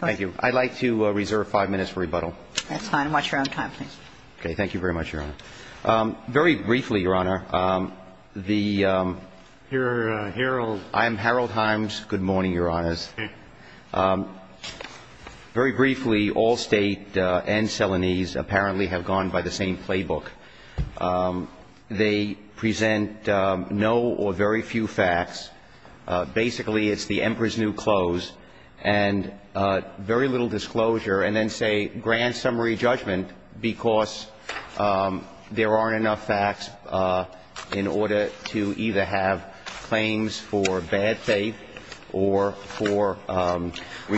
Thank you. I'd like to reserve five minutes for rebuttal. That's fine. Watch your own time, please. Okay. Thank you very much, Your Honor. Very briefly, Your Honor, the – You're Harold – I'm Harold Himes. Good morning, Your Honors. Okay. Very briefly, Allstate and Celanese apparently have gone by the same playbook. They present no or very few facts. Basically, it's the Emperor's New Clothes. And very little disclosure. And then say grand summary judgment because there aren't enough facts in order to either have claims for bad faith or for responsibility.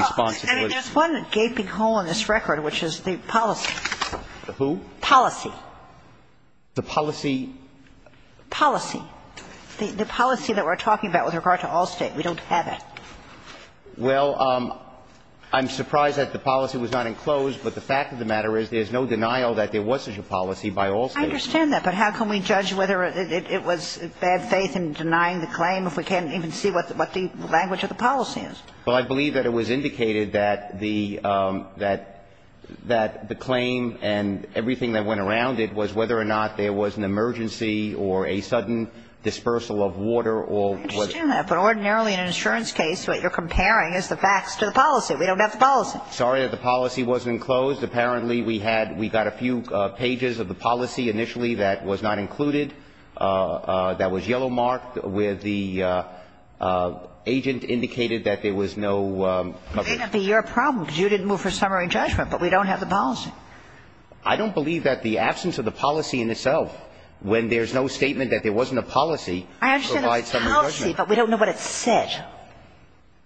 I think there's one gaping hole in this record, which is the policy. The who? Policy. The policy? Policy. The policy that we're talking about with regard to Allstate. We don't have it. Well, I'm surprised that the policy was not enclosed, but the fact of the matter is there's no denial that there was such a policy by Allstate. I understand that, but how can we judge whether it was bad faith in denying the claim if we can't even see what the language of the policy is? Well, I believe that it was indicated that the claim and everything that went around it was whether or not there was an emergency or a sudden dispersal of water or whatever. I understand that, but ordinarily in an insurance case, what you're comparing is the facts to the policy. We don't have the policy. Sorry that the policy wasn't enclosed. Apparently, we had we got a few pages of the policy initially that was not included, that was yellow marked, where the agent indicated that there was no... It may not be your problem because you didn't move for summary judgment, but we don't have the policy. I don't believe that the absence of the policy in itself, when there's no statement that there wasn't a policy, provides summary judgment. I understand the policy, but we don't know what it said.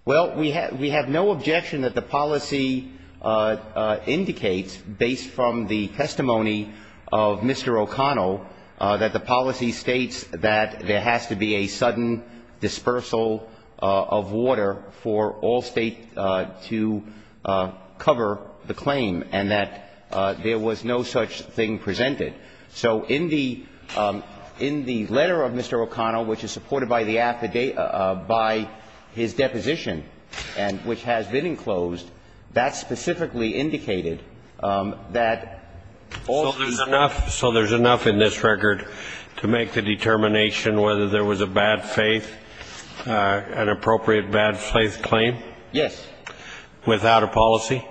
Well, we have no objection that the policy indicates, based from the testimony of Mr. O'Connell, that there was a sudden dispersal of water for all State to cover the claim and that there was no such thing presented. So in the letter of Mr. O'Connell, which is supported by the affidavit, by his deposition, and which has been enclosed, that specifically indicated that all State... And that's a bad faith, an appropriate bad faith claim? Yes. Without a policy?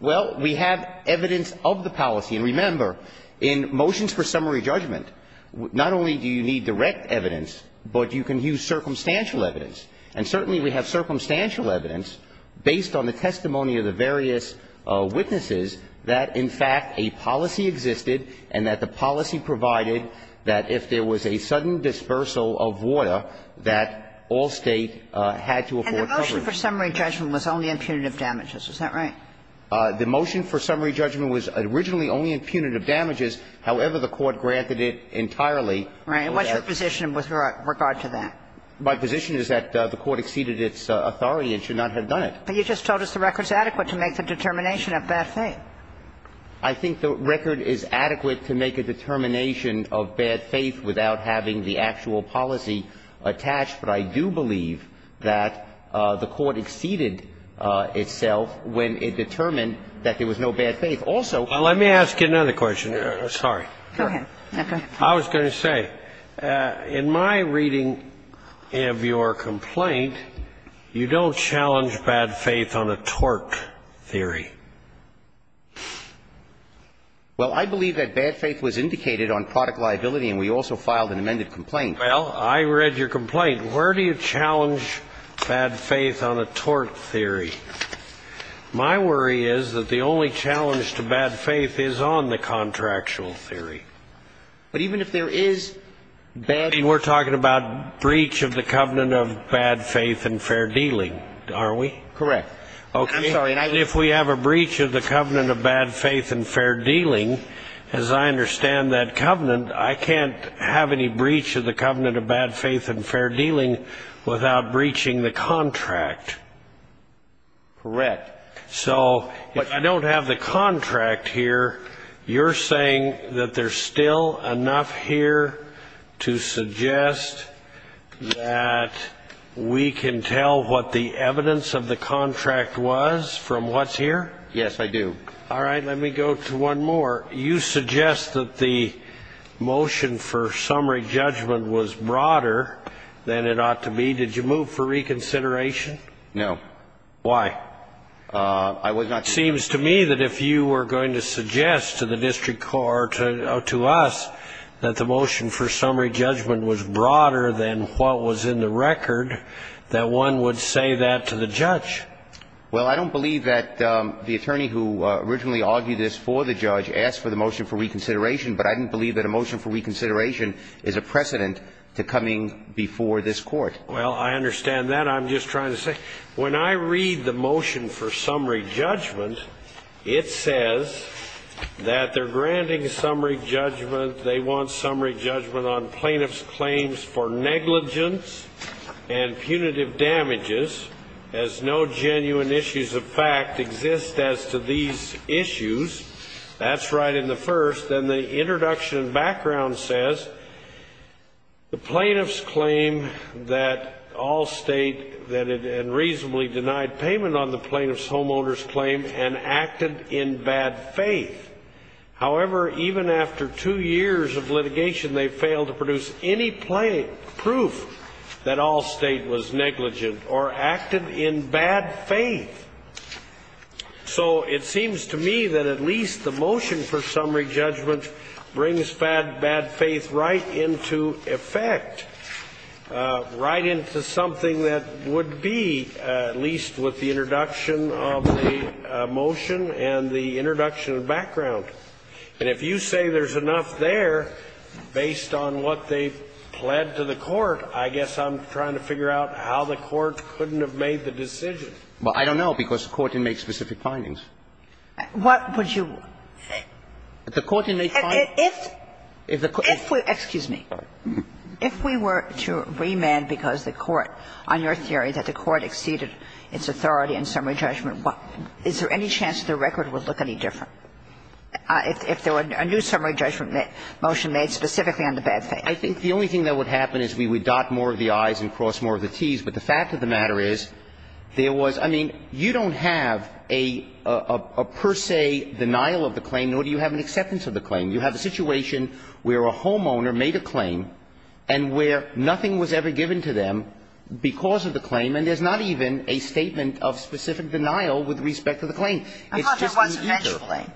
Well, we have evidence of the policy. And remember, in motions for summary judgment, not only do you need direct evidence, but you can use circumstantial evidence. And certainly we have circumstantial evidence, based on the testimony of the various witnesses, that, in fact, a policy existed and that the policy provided that if there was a sudden dispersal of water, that all State had to afford coverage. And the motion for summary judgment was only in punitive damages. Is that right? The motion for summary judgment was originally only in punitive damages. However, the Court granted it entirely. Right. And what's your position with regard to that? My position is that the Court exceeded its authority and should not have done it. But you just told us the record is adequate to make the determination of bad faith. I think the record is adequate to make a determination of bad faith without having the actual policy attached. But I do believe that the Court exceeded itself when it determined that there was no bad faith. Also ---- Well, let me ask you another question. Sorry. Go ahead. Okay. I was going to say, in my reading of your complaint, you don't challenge bad faith on a tort theory. Well, I believe that bad faith was indicated on product liability, and we also filed an amended complaint. Well, I read your complaint. Where do you challenge bad faith on a tort theory? My worry is that the only challenge to bad faith is on the contractual theory. But even if there is bad faith ---- We're talking about breach of the covenant of bad faith and fair dealing, aren't we? Correct. I'm sorry. If we have a breach of the covenant of bad faith and fair dealing, as I understand that covenant, I can't have any breach of the covenant of bad faith and fair dealing without breaching the contract. Correct. So if I don't have the contract here, you're saying that there's still enough here to suggest that we can tell what the evidence of the contract was from what's here? Yes, I do. All right. Let me go to one more. You suggest that the motion for summary judgment was broader than it ought to be. Did you move for reconsideration? No. Why? It seems to me that if you were going to suggest to the district court or to us that the motion for summary judgment was broader than what was in the record, that one would say that to the judge. Well, I don't believe that the attorney who originally argued this for the judge asked for the motion for reconsideration, but I didn't believe that a motion for reconsideration is a precedent to coming before this Court. Well, I understand that. I'm just trying to say, when I read the motion for summary judgment, it says that they're granting summary judgment. They want summary judgment on plaintiff's claims for negligence and punitive damages, as no genuine issues of fact exist as to these issues. That's right in the first. And the introduction and background says the plaintiff's claim that Allstate, that it had reasonably denied payment on the plaintiff's homeowner's claim and acted in bad faith. However, even after two years of litigation, they failed to produce any proof that Allstate was negligent or acted in bad faith. So it seems to me that at least the motion for summary judgment brings bad faith right into effect, right into something that would be, at least with the introduction of the motion and the introduction of background. And if you say there's enough there based on what they pled to the Court, I guess I'm trying to figure out how the Court couldn't have made the decision. Well, I don't know, because the Court didn't make specific findings. What would you? The Court didn't make findings. If the Court didn't make findings. If the Court didn't make findings. Excuse me. If we were to remand because the Court, on your theory that the Court exceeded its authority in summary judgment, is there any chance the record would look any different if there were a new summary judgment motion made specifically on the bad faith? I think the only thing that would happen is we would dot more of the i's and cross more of the t's. But the fact of the matter is there was – I mean, you don't have a per se denial of the claim, nor do you have an acceptance of the claim. You have a situation where a homeowner made a claim and where nothing was ever given to them because of the claim, and there's not even a statement of specific denial with respect to the claim. I thought there was an edge claim.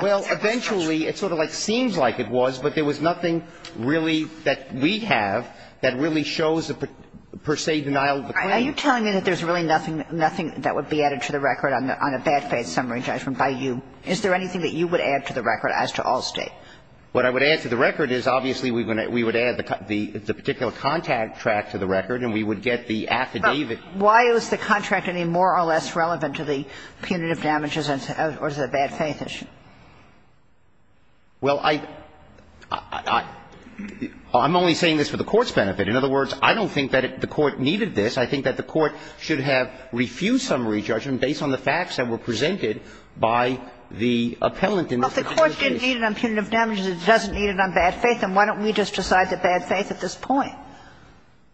Well, eventually it sort of like seems like it was, but there was nothing really that we have that really shows a per se denial of the claim. Are you telling me that there's really nothing – nothing that would be added to the record on a bad faith summary judgment by you? Is there anything that you would add to the record as to Allstate? What I would add to the record is obviously we would add the particular contact tract to the record and we would get the affidavit. But why is the contract any more or less relevant to the punitive damages or the bad faith issue? Well, I – I'm only saying this for the Court's benefit. In other words, I don't think that the Court needed this. I think that the Court should have refused summary judgment based on the facts that were presented by the appellant in this particular case. Well, if the Court didn't need it on punitive damages, it doesn't need it on bad faith, then why don't we just decide the bad faith at this point?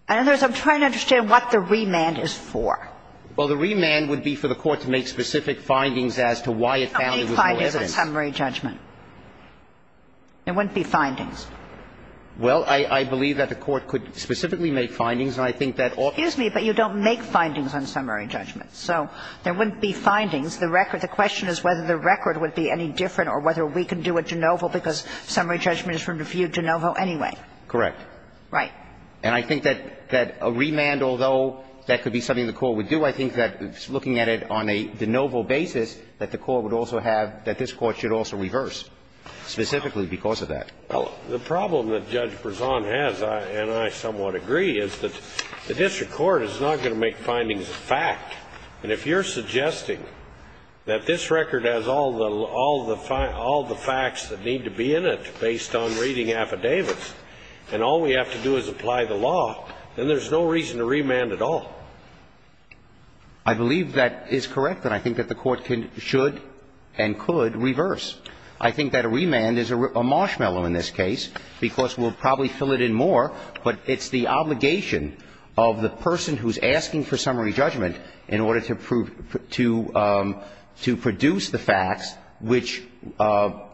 In other words, I'm trying to understand what the remand is for. Well, the remand would be for the Court to make specific findings as to why it found that there was no evidence. What are the findings on summary judgment? There wouldn't be findings. Well, I believe that the Court could specifically make findings, and I think that often Excuse me, but you don't make findings on summary judgment. So there wouldn't be findings. The record – the question is whether the record would be any different or whether we can do a de novo because summary judgment is from review de novo anyway. Correct. Right. And I think that a remand, although that could be something the Court would do, I think that looking at it on a de novo basis, that the Court would also have – that this Court should also reverse specifically because of that. Well, the problem that Judge Brezon has, and I somewhat agree, is that the district court is not going to make findings of fact. And if you're suggesting that this record has all the facts that need to be in it based on reading affidavits, and all we have to do is apply the law, then there's no reason to remand at all. I believe that is correct, and I think that the Court can – should and could reverse. I think that a remand is a marshmallow in this case because we'll probably fill it in more, but it's the obligation of the person who's asking for summary judgment in order to produce the facts which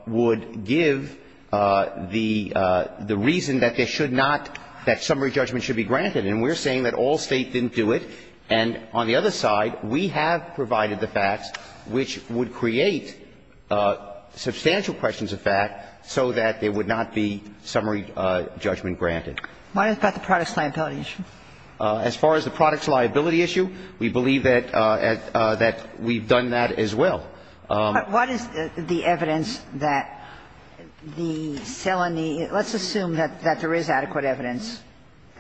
would give the reason that there should not – that summary judgment should be granted. And we're saying that all State didn't do it. And on the other side, we have provided the facts which would create substantial questions of fact so that there would not be summary judgment granted. Why is that the product's liability issue? As far as the product's liability issue, we believe that we've done that as well. But what is the evidence that the Seleny – let's assume that there is adequate evidence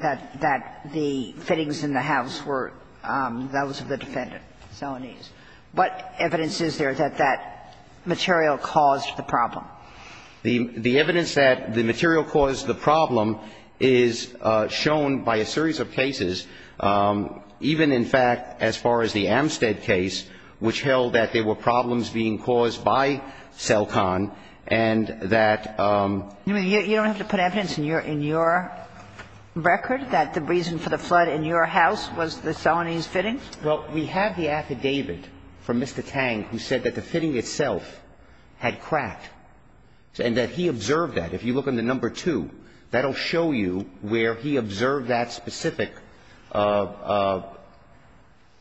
that the fittings in the house were those of the defendant, Seleny's. What evidence is there that that material caused the problem? The evidence that the material caused the problem is shown by a series of cases, even in fact as far as the Amstead case, which held that there were problems being caused by Celcon and that – You mean you don't have to put evidence in your – in your record that the reason for the flood in your house was the Seleny's fittings? Well, we have the affidavit from Mr. Tang who said that the fitting itself had cracked and that he observed that. If you look on the number two, that will show you where he observed that specific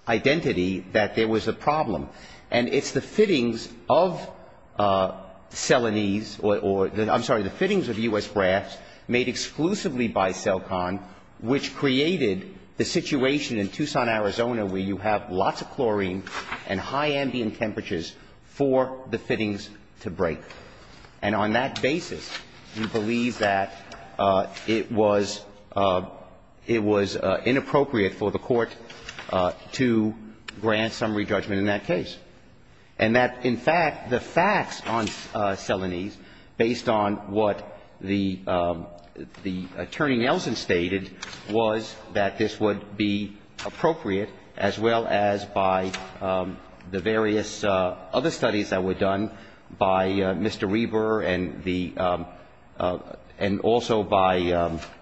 identity that there was a problem. And it's the fittings of Seleny's or – I'm sorry, the fittings of U.S. Braff's made exclusively by Celcon, which created the situation in Tucson, Arizona, where you have lots of chlorine and high ambient temperatures for the fittings to break. And on that basis, we believe that it was – it was inappropriate for the Court to grant summary judgment in that case. And that, in fact, the facts on Seleny's, based on what the Attorney Nelson stated, was that this would be appropriate as well as by the various other studies that were done by Mr. Reber and the – and also by –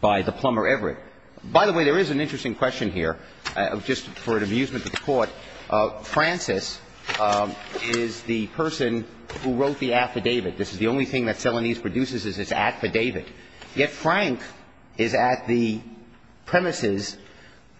by the plumber Everett. By the way, there is an interesting question here, just for an amusement to the Court. Francis is the person who wrote the affidavit. This is the only thing that Seleny's produces is this affidavit. Yet Frank is at the premises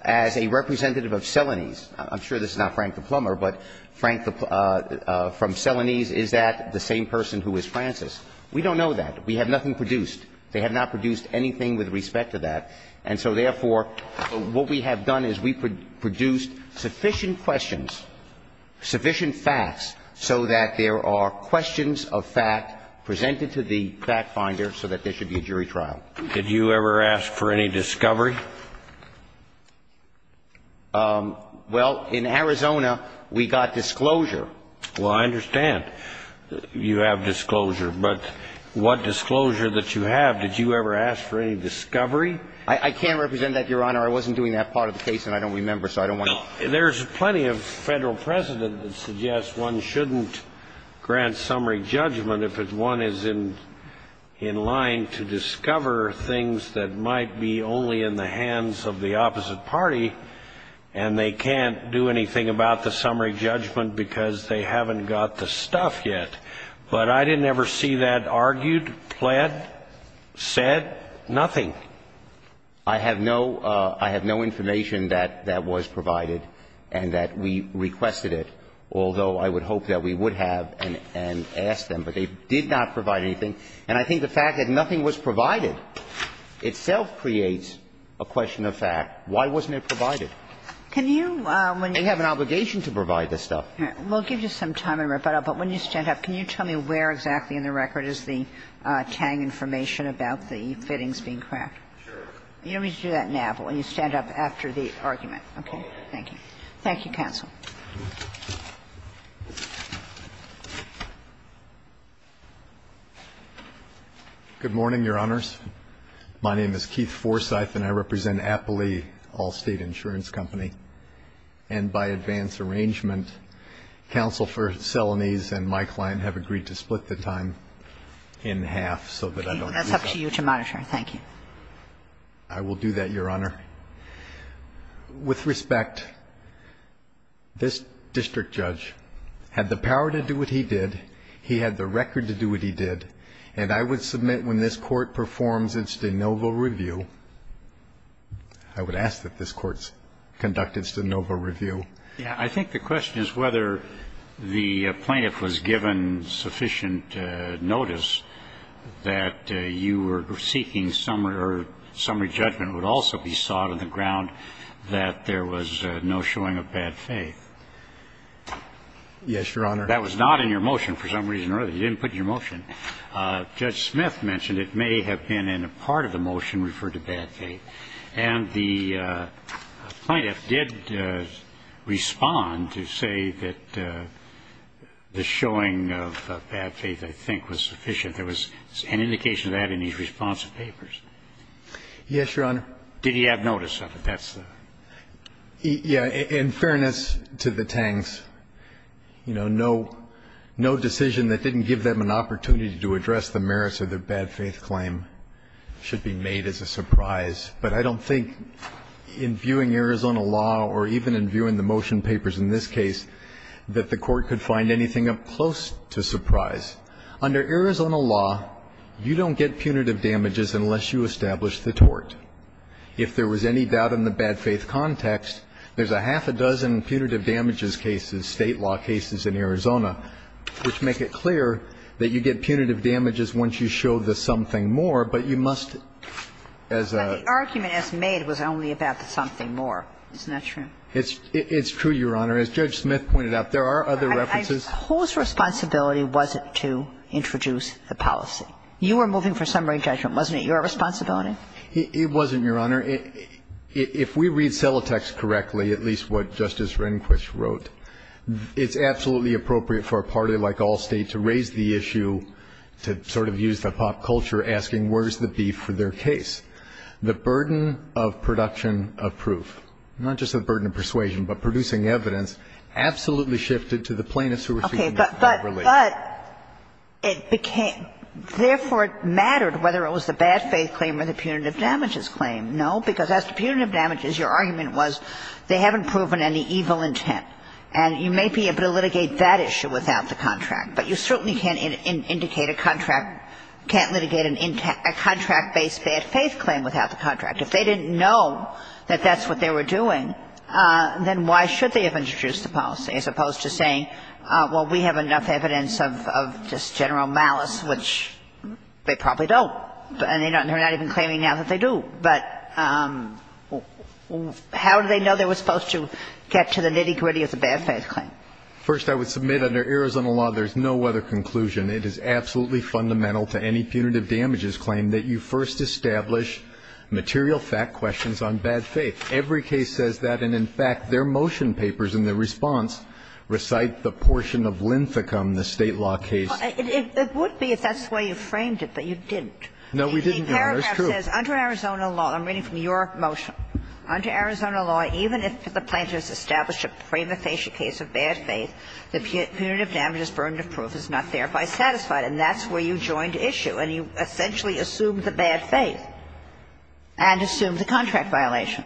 as a representative of Seleny's. I'm sure this is not Frank the plumber, but Frank from Seleny's is that the same person who is Francis. We don't know that. We have nothing produced. They have not produced anything with respect to that. And so therefore, what we have done is we produced sufficient questions, sufficient facts, so that there are questions of fact presented to the fact finder so that there should be a jury trial. Did you ever ask for any discovery? Well, in Arizona, we got disclosure. Well, I understand you have disclosure. But what disclosure that you have, did you ever ask for any discovery? I can't represent that, Your Honor. I wasn't doing that part of the case, and I don't remember, so I don't want to. There's plenty of Federal precedent that suggests one shouldn't grant summary judgment if one is in line to discover things that might be only in the hands of the opposite party, and they can't do anything about the summary judgment because they haven't got the stuff yet. But I didn't ever see that argued, pled, said, nothing. I have no information that that was provided and that we requested it, although I would hope that we would have and asked them. But they did not provide anything. And I think the fact that nothing was provided itself creates a question of fact. Why wasn't it provided? They have an obligation to provide this stuff. All right. We'll give you some time in rebuttal, but when you stand up, can you tell me where exactly in the record is the Tang information about the fittings being cracked? You don't need to do that now. When you stand up after the argument. Okay. Thank you. Thank you, counsel. Forsyth. Good morning, Your Honors. My name is Keith Forsyth, and I represent Appley Allstate Insurance Company. And by advance arrangement, Counsel for Selanese and my client have agreed to split the time in half so that I don't lose that. That's up to you to monitor. Thank you. I will do that, Your Honor. With respect, this district judge had the power to do what he did. He had the record to do what he did. And I would submit when this Court performs its de novo review, I would ask that this Court conduct its de novo review. Yeah. I think the question is whether the plaintiff was given sufficient notice that you were seeking summary judgment would also be sought on the ground that there was no showing of bad faith. Yes, Your Honor. That was not in your motion for some reason or other. You didn't put it in your motion. Judge Smith mentioned it may have been in a part of the motion referred to bad faith. And the plaintiff did respond to say that the showing of bad faith, I think, was sufficient. There was an indication of that in his response to papers. Yes, Your Honor. Did he have notice of it? That's the question. Yeah. In fairness to the Tangs, you know, no decision that didn't give them an opportunity to address the merits of their bad faith claim should be made as a surprise. But I don't think in viewing Arizona law or even in viewing the motion papers in this case that the Court could find anything up close to surprise. Under Arizona law, you don't get punitive damages unless you establish the tort. If there was any doubt in the bad faith context, there's a half a dozen punitive damages once you show the something more. But you must, as a – But the argument as made was only about the something more. Isn't that true? It's true, Your Honor. As Judge Smith pointed out, there are other references. I suppose responsibility wasn't to introduce the policy. You were moving for summary judgment, wasn't it? Your responsibility? It wasn't, Your Honor. If we read Celotex correctly, at least what Justice Rehnquist wrote, it's absolutely appropriate for a party like Allstate to raise the issue, to sort of use the pop culture, asking where's the beef for their case. The burden of production of proof, not just the burden of persuasion, but producing evidence, absolutely shifted to the plaintiffs who were speaking improperly. Okay. But it became – therefore, it mattered whether it was the bad faith claim or the punitive damages claim. No? Because as to punitive damages, your argument was they haven't proven any evil intent. And you may be able to litigate that issue without the contract. But you certainly can't indicate a contract – can't litigate a contract-based bad faith claim without the contract. If they didn't know that that's what they were doing, then why should they have introduced the policy, as opposed to saying, well, we have enough evidence of just general malice, which they probably don't. And they're not even claiming now that they do. But how do they know they were supposed to get to the nitty-gritty of the bad faith claim? First, I would submit under Arizona law, there's no other conclusion. It is absolutely fundamental to any punitive damages claim that you first establish material fact questions on bad faith. Every case says that, and in fact, their motion papers in their response recite the portion of Linthicum, the State law case. It would be if that's the way you framed it, but you didn't. No, we didn't, Your Honor. It's true. It's under Arizona law. I'm reading from your motion. Under Arizona law, even if the plaintiff has established a premonitory case of bad faith, the punitive damages burden of proof is not thereby satisfied. And that's where you joined issue. And you essentially assumed the bad faith and assumed the contract violation.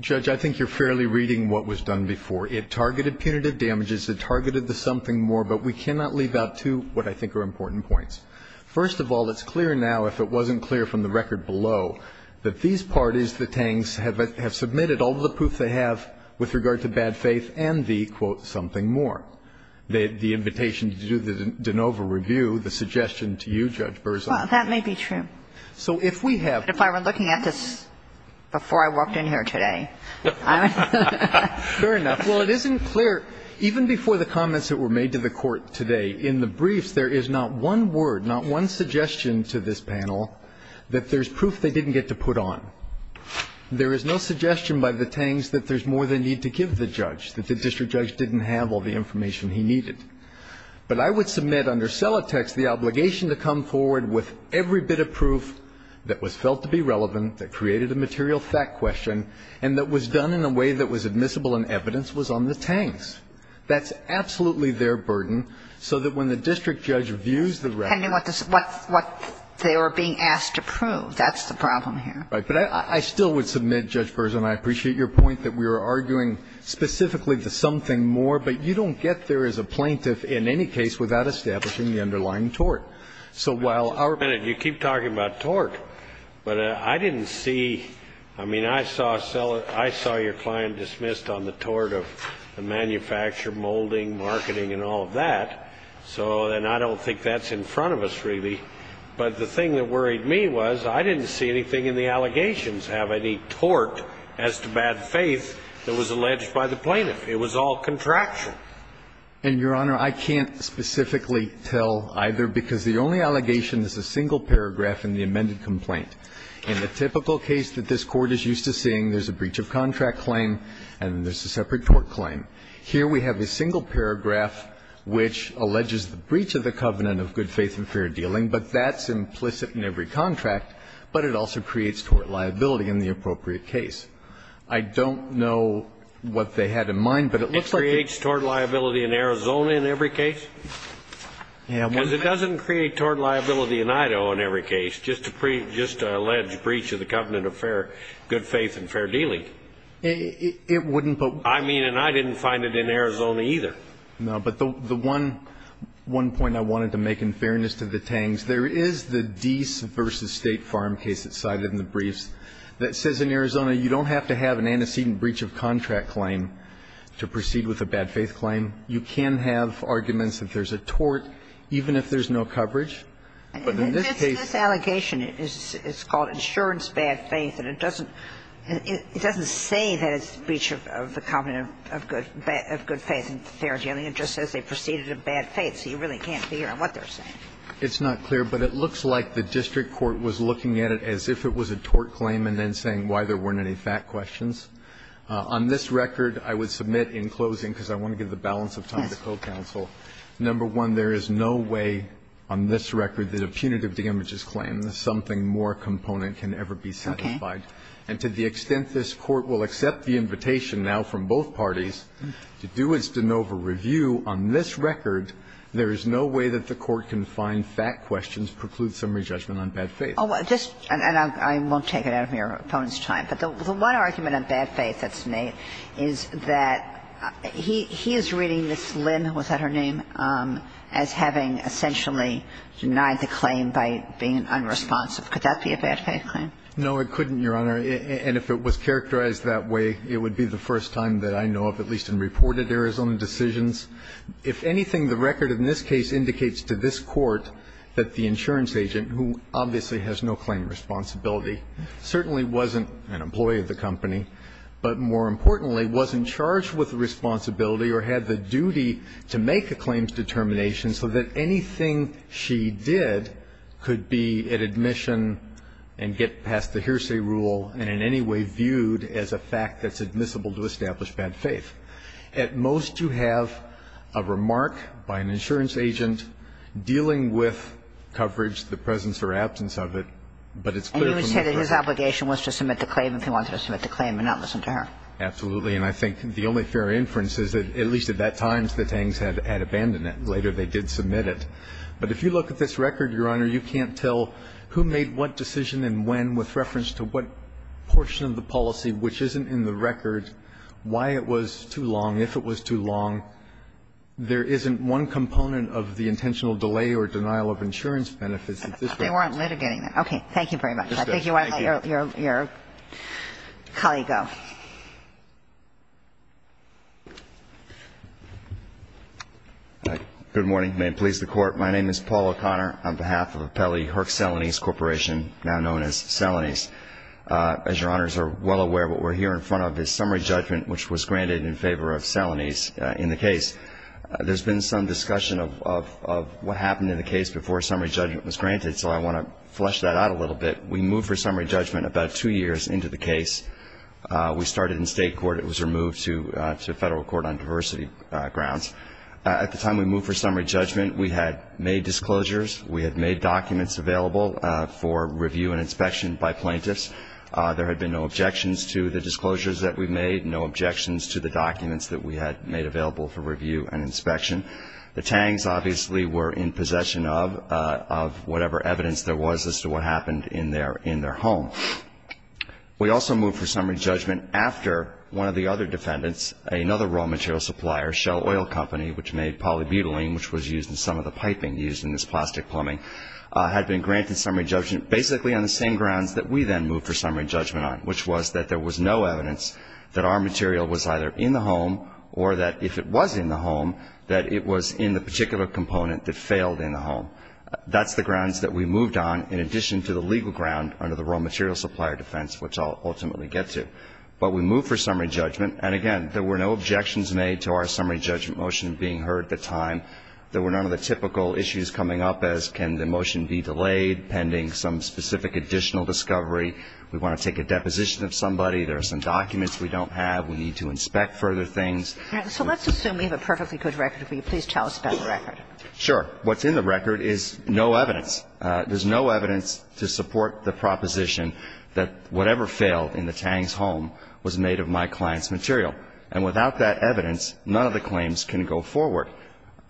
Judge, I think you're fairly reading what was done before. It targeted punitive damages. It targeted the something more. But we cannot leave out two what I think are important points. First of all, it's clear now, if it wasn't clear from the record below, that these parties, the Tangs, have submitted all of the proof they have with regard to bad faith and the, quote, something more. The invitation to do the de novo review, the suggestion to you, Judge Berzon. Well, that may be true. So if we have to. But if I were looking at this before I walked in here today, I would. Fair enough. Well, it isn't clear, even before the comments that were made to the Court today, in the briefs, there is not one word, not one suggestion to this panel that there's proof they didn't get to put on. There is no suggestion by the Tangs that there's more they need to give the judge, that the district judge didn't have all the information he needed. But I would submit under Celatex the obligation to come forward with every bit of proof that was felt to be relevant, that created a material fact question, and that was done in a way that was admissible in evidence was on the Tangs. That's absolutely their burden, so that when the district judge views the record. What they were being asked to prove, that's the problem here. Right. But I still would submit, Judge Berzon, I appreciate your point that we were arguing specifically to something more. But you don't get there as a plaintiff in any case without establishing the underlying tort. So while our. You keep talking about tort. But I didn't see, I mean, I saw Celatex, I saw your client dismissed on the tort of the manufacturer, molding, marketing, and all of that. So then I don't think that's in front of us, really. But the thing that worried me was I didn't see anything in the allegations have any tort as to bad faith that was alleged by the plaintiff. It was all contraction. And, Your Honor, I can't specifically tell either, because the only allegation is a single paragraph in the amended complaint. In the typical case that this Court is used to seeing, there's a breach of contract claim, and there's a separate tort claim. Here we have a single paragraph which alleges the breach of the covenant of good faith and fair dealing. But that's implicit in every contract. But it also creates tort liability in the appropriate case. I don't know what they had in mind, but it looks like. It creates tort liability in Arizona in every case? Yeah. Because it doesn't create tort liability in Idaho in every case, just to pre, just to allege breach of the covenant of fair, good faith and fair dealing. It wouldn't, but. I mean, and I didn't find it in Arizona either. No, but the one, one point I wanted to make in fairness to the Tangs, there is the Dease v. State Farm case that's cited in the briefs that says in Arizona you don't have to have an antecedent breach of contract claim to proceed with a bad faith claim. You can have arguments that there's a tort, even if there's no coverage. But in this case. This allegation is called insurance bad faith, and it doesn't, it doesn't say that it's a breach of the covenant of good, of good faith and fair dealing. It just says they proceeded a bad faith, so you really can't figure out what they're saying. It's not clear, but it looks like the district court was looking at it as if it was a tort claim and then saying why there weren't any fact questions. On this record, I would submit in closing, because I want to give the balance of time to co-counsel. Number one, there is no way on this record that a punitive damages claim is something more component can ever be satisfied. And to the extent this Court will accept the invitation now from both parties to do its de novo review on this record, there is no way that the Court can find fact questions preclude summary judgment on bad faith. And I won't take it out of your opponent's time, but the one argument on bad faith that's made is that he is reading Ms. Lim, was that her name, as having essentially denied the claim by being unresponsive. Could that be a bad faith claim? No, it couldn't, Your Honor. And if it was characterized that way, it would be the first time that I know of, at least in reported Arizona decisions. If anything, the record in this case indicates to this Court that the insurance agent, who obviously has no claim responsibility, certainly wasn't an employee of the company, but more importantly, was in charge with the responsibility or had the duty to make a claims determination so that anything she did could be at admission and get past the hearsay rule and in any way viewed as a fact that's admissible to establish bad faith. At most, you have a remark by an insurance agent dealing with coverage, the presence of a claim. And if you look at this record, Your Honor, you can't tell who made what decision and when with reference to what portion of the policy which isn't in the record, why it was too long, if it was too long. There isn't one component of the intentional delay or denial of insurance benefits at this point. They weren't litigating that. Thank you very much. Thank you. Thank you. Thank you. Okay. Your colleague, go. Good morning. May it please the Court. My name is Paul O'Connor on behalf of Appellee Herc Selanese Corporation, now known as Selanese. As Your Honors are well aware, what we're here in front of is summary judgment, which was granted in favor of Selanese in the case. There's been some discussion of what happened in the case before summary judgment was granted, so I want to flesh that out a little bit. We moved for summary judgment about two years into the case. We started in state court. It was removed to federal court on diversity grounds. At the time we moved for summary judgment, we had made disclosures. We had made documents available for review and inspection by plaintiffs. There had been no objections to the disclosures that we made, no objections to the documents that we had made available for review and inspection. The Tangs obviously were in possession of whatever evidence there was as to what they are in their home. We also moved for summary judgment after one of the other defendants, another raw material supplier, Shell Oil Company, which made polybutylene, which was used in some of the piping used in this plastic plumbing, had been granted summary judgment basically on the same grounds that we then moved for summary judgment on, which was that there was no evidence that our material was either in the home or that if it was in the home, that it was in the particular component that failed in the home. That's the grounds that we moved on in addition to the legal ground under the raw material supplier defense, which I'll ultimately get to. But we moved for summary judgment. And, again, there were no objections made to our summary judgment motion being heard at the time. There were none of the typical issues coming up as can the motion be delayed pending some specific additional discovery. We want to take a deposition of somebody. There are some documents we don't have. We need to inspect further things. Kagan. So let's assume we have a perfectly good record. Will you please tell us about the record? Sure. What's in the record is no evidence. There's no evidence to support the proposition that whatever failed in the Tang's home was made of my client's material. And without that evidence, none of the claims can go forward.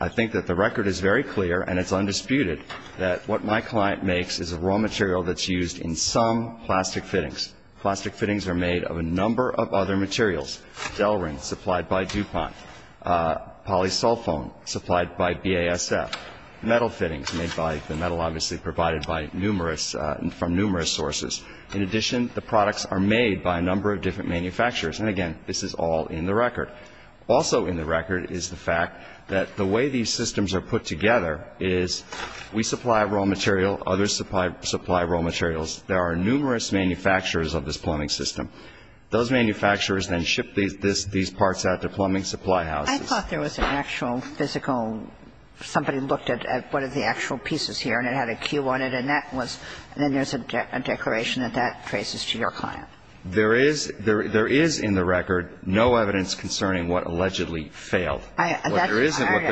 I think that the record is very clear and it's undisputed that what my client makes is a raw material that's used in some plastic fittings. Plastic fittings are made of a number of other materials. Delrin supplied by DuPont, polysulfone supplied by BASF. Metal fittings made by the metal obviously provided by numerous, from numerous sources. In addition, the products are made by a number of different manufacturers. And again, this is all in the record. Also in the record is the fact that the way these systems are put together is we supply raw material, others supply raw materials. There are numerous manufacturers of this plumbing system. Those manufacturers then ship these parts out to plumbing supply houses. I thought there was an actual physical, somebody looked at what are the actual pieces here and it had a cue on it and that was, then there's a declaration that that traces to your client. There is in the record no evidence concerning what allegedly failed. What there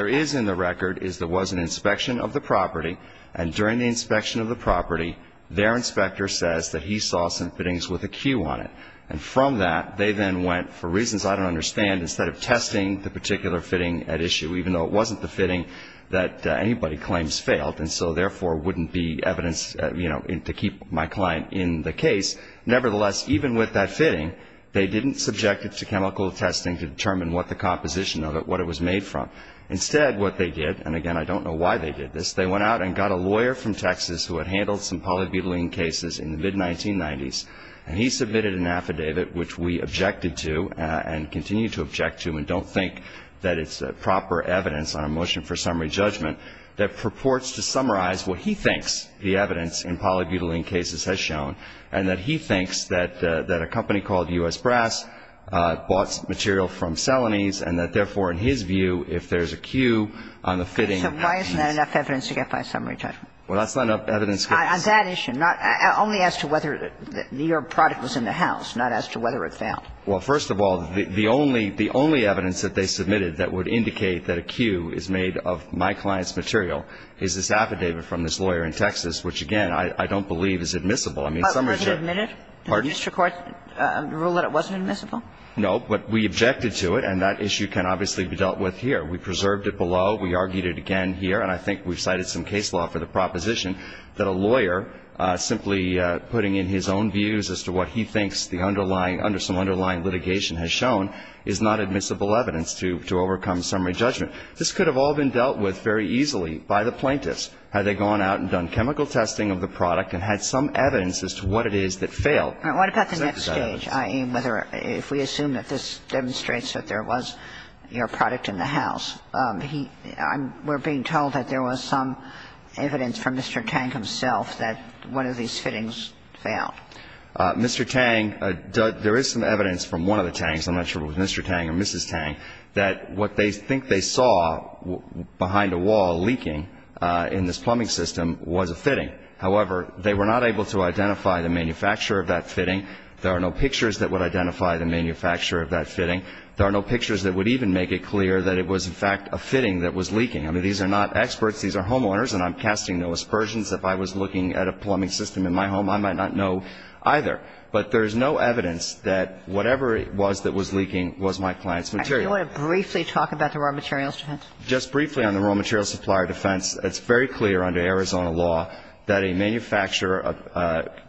is in the record is there was an inspection of the property and during the inspection of the property, their inspector says that he saw some fittings with a cue on it. And from that, they then went, for reasons I don't understand, instead of testing the particular fitting at issue, even though it wasn't the fitting that anybody claims failed and so therefore wouldn't be evidence to keep my client in the case, nevertheless, even with that fitting, they didn't subject it to chemical testing to determine what the composition of it, what it was made from. Instead, what they did, and again, I don't know why they did this, they went out and got a lawyer from Texas who had handled some polybutylene cases in the mid-1990s and he submitted an affidavit which we objected to and continue to object to and don't think that it's proper evidence on a motion for summary judgment that purports to summarize what he thinks the evidence in polybutylene cases has shown and that he thinks that a company called U.S. Brass bought material from Celanese and that therefore, in his view, if there's a cue on the fitting. So why isn't that enough evidence to get by summary judgment? Well, that's not enough evidence to get by summary judgment. On that issue, only as to whether your product was in the house, not as to whether it failed. Well, first of all, the only evidence that they submitted that would indicate that a cue is made of my client's material is this affidavit from this lawyer in Texas, which again, I don't believe is admissible. I mean, summary judgment. Was it admitted? Did the district court rule that it wasn't admissible? No, but we objected to it and that issue can obviously be dealt with here. We preserved it below. We argued it again here and I think we've cited some case law for the proposition that a lawyer simply putting in his own views as to what he thinks the underlying under some underlying litigation has shown is not admissible evidence to overcome summary judgment. This could have all been dealt with very easily by the plaintiffs had they gone out and done chemical testing of the product and had some evidence as to what it is that failed. What about the next stage, i.e., whether if we assume that this demonstrates that there was your product in the house, he we're being told that there was some evidence from Mr. Tang himself that one of these fittings failed. Mr. Tang, there is some evidence from one of the Tangs, I'm not sure if it was Mr. Tang or Mrs. Tang, that what they think they saw behind a wall leaking in this plumbing system was a fitting. However, they were not able to identify the manufacturer of that fitting. There are no pictures that would identify the manufacturer of that fitting. There are no pictures that would even make it clear that it was, in fact, a fitting that was leaking. I mean, these are not experts. These are homeowners and I'm casting no aspersions. If I was looking at a plumbing system in my home, I might not know either. But there is no evidence that whatever it was that was leaking was my client's material. Do you want to briefly talk about the raw materials defense? Just briefly on the raw materials supplier defense, it's very clear under Arizona law that a manufacturer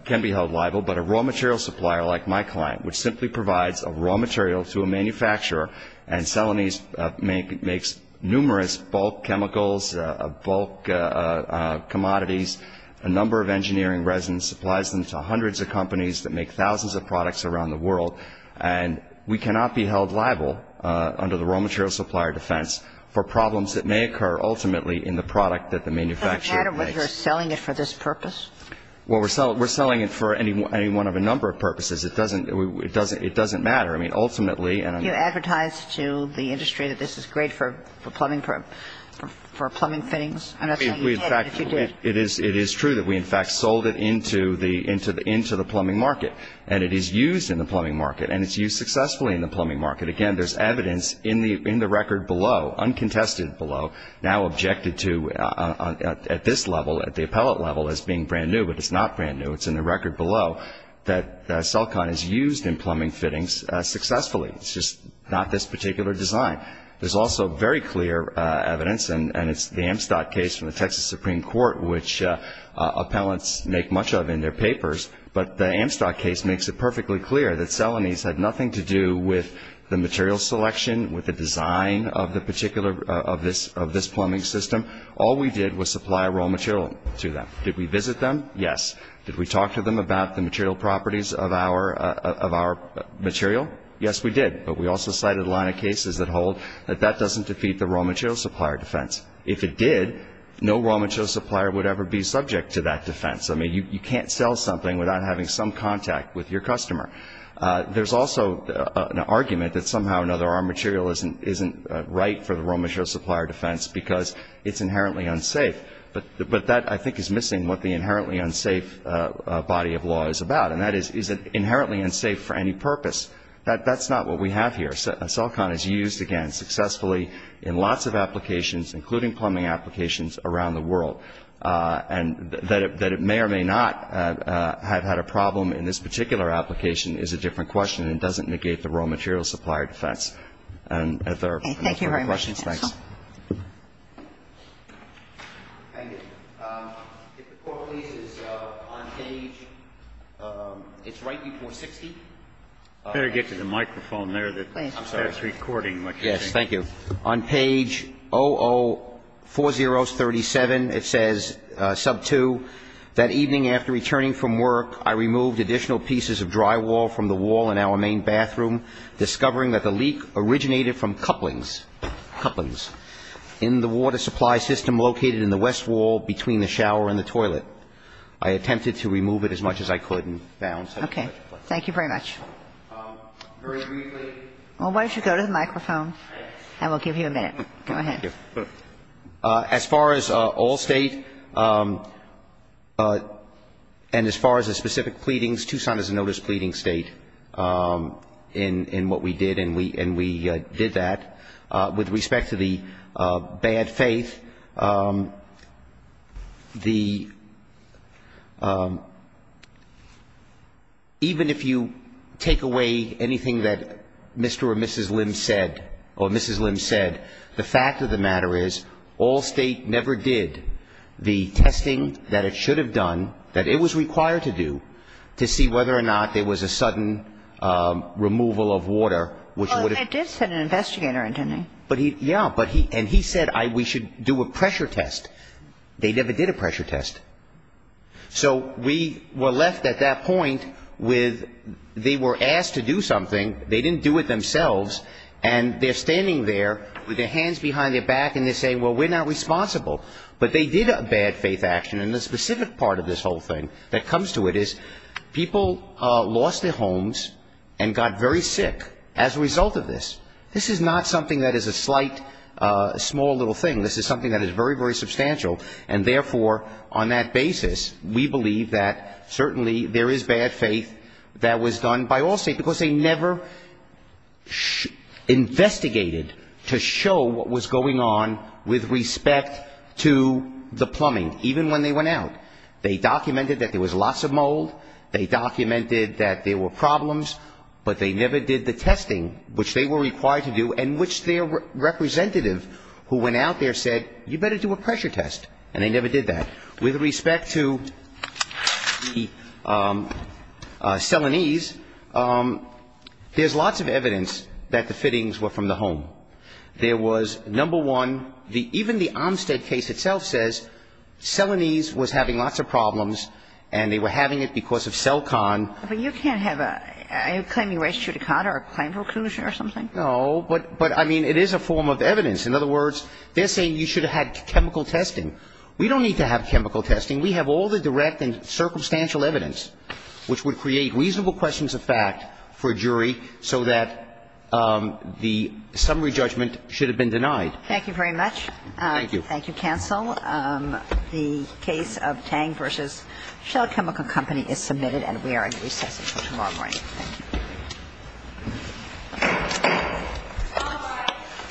can be held liable, but a raw materials supplier like my client, which simply provides a raw material to a manufacturer and makes numerous bulk chemicals, bulk commodities, a number of engineering resins, supplies them to hundreds of companies that make thousands of products around the world. And we cannot be held liable under the raw materials supplier defense for problems that may occur ultimately in the product that the manufacturer makes. Does it matter whether you're selling it for this purpose? Well, we're selling it for any one of a number of purposes. It doesn't matter. I mean, ultimately, and I'm going to be honest. It is true that we, in fact, sold it into the plumbing market. And it is used in the plumbing market. And it's used successfully in the plumbing market. Again, there's evidence in the record below, uncontested below, now objected to at this level, at the appellate level, as being brand new. But it's not brand new. It's in the record below that Celcon is used in plumbing fittings successfully. It's just not this particular company. It's not this particular design. There's also very clear evidence, and it's the Amstot case from the Texas Supreme Court, which appellants make much of in their papers. But the Amstot case makes it perfectly clear that Celonese had nothing to do with the material selection, with the design of this plumbing system. All we did was supply raw material to them. Did we visit them? Yes. Did we talk to them about the material properties of our material? Yes, we did. But we also cited a lot of cases that hold that that doesn't defeat the raw material supplier defense. If it did, no raw material supplier would ever be subject to that defense. I mean, you can't sell something without having some contact with your customer. There's also an argument that somehow or another our material isn't right for the raw material supplier defense because it's inherently unsafe. But that, I think, is missing what the inherently unsafe body of law is about. And that is, is it inherently unsafe for any purpose? That's not what we have here. Celcon is used, again, successfully in lots of applications, including plumbing applications around the world. And that it may or may not have had a problem in this particular application is a different question and doesn't negate the raw material supplier defense. And if there are no further questions, thanks. Thank you very much, counsel. Thank you. If the Court pleases, on page, it's right before 60. Better get to the microphone there. I'm sorry. It's recording. Yes, thank you. On page 004037, it says, sub 2, that evening after returning from work, I removed additional pieces of drywall from the wall in our main bathroom, discovering that the leak originated from couplings. Couplings. In the water supply system located in the west wall between the shower and the toilet. I attempted to remove it as much as I could and found such and such a place. Okay. Thank you very much. Very briefly. Why don't you go to the microphone and we'll give you a minute. Go ahead. Thank you. As far as all State and as far as the specific pleadings, Tucson is a notice pleading State in what we did and we did that. With respect to the bad faith, the, even if you take away anything that Mr. or Mrs. Lim said, or Mrs. Lim said, the fact of the matter is, all State never did the testing that it should have done, that it was required to do, to see whether or not there was a sudden removal of water which would have sent an investigator in. Yeah. And he said we should do a pressure test. They never did a pressure test. So we were left at that point with, they were asked to do something. They didn't do it themselves. And they're standing there with their hands behind their back and they're saying, well, we're not responsible. But they did a bad faith action. And the specific part of this whole thing that comes to it is people lost their homes and got very sick as a result of this. This is not something that is a slight, small little thing. This is something that is very, very substantial. And therefore, on that basis, we believe that certainly there is bad faith that was done by all States because they never investigated to show what was going on with respect to the plumbing, even when they went out. They documented that there was lots of mold. They documented that there were problems. But they never did the testing which they were required to do and which their representative who went out there said, you better do a pressure test. And they never did that. With respect to the Celanese, there's lots of evidence that the fittings were from the home. There was, number one, even the Armstead case itself says Celanese was having lots of problems and they were having it because of Celcon. But you can't have a ‑‑ are you claiming res judicata or a claim for inclusion or something? No. But, I mean, it is a form of evidence. In other words, they're saying you should have had chemical testing. We don't need to have chemical testing. We have all the direct and circumstantial evidence which would create reasonable questions of fact for a jury so that the summary judgment should have been denied. Thank you very much. Thank you. Thank you, counsel. The case of Tang v. Shell Chemical Company is submitted and we are in recess until tomorrow morning. Thank you.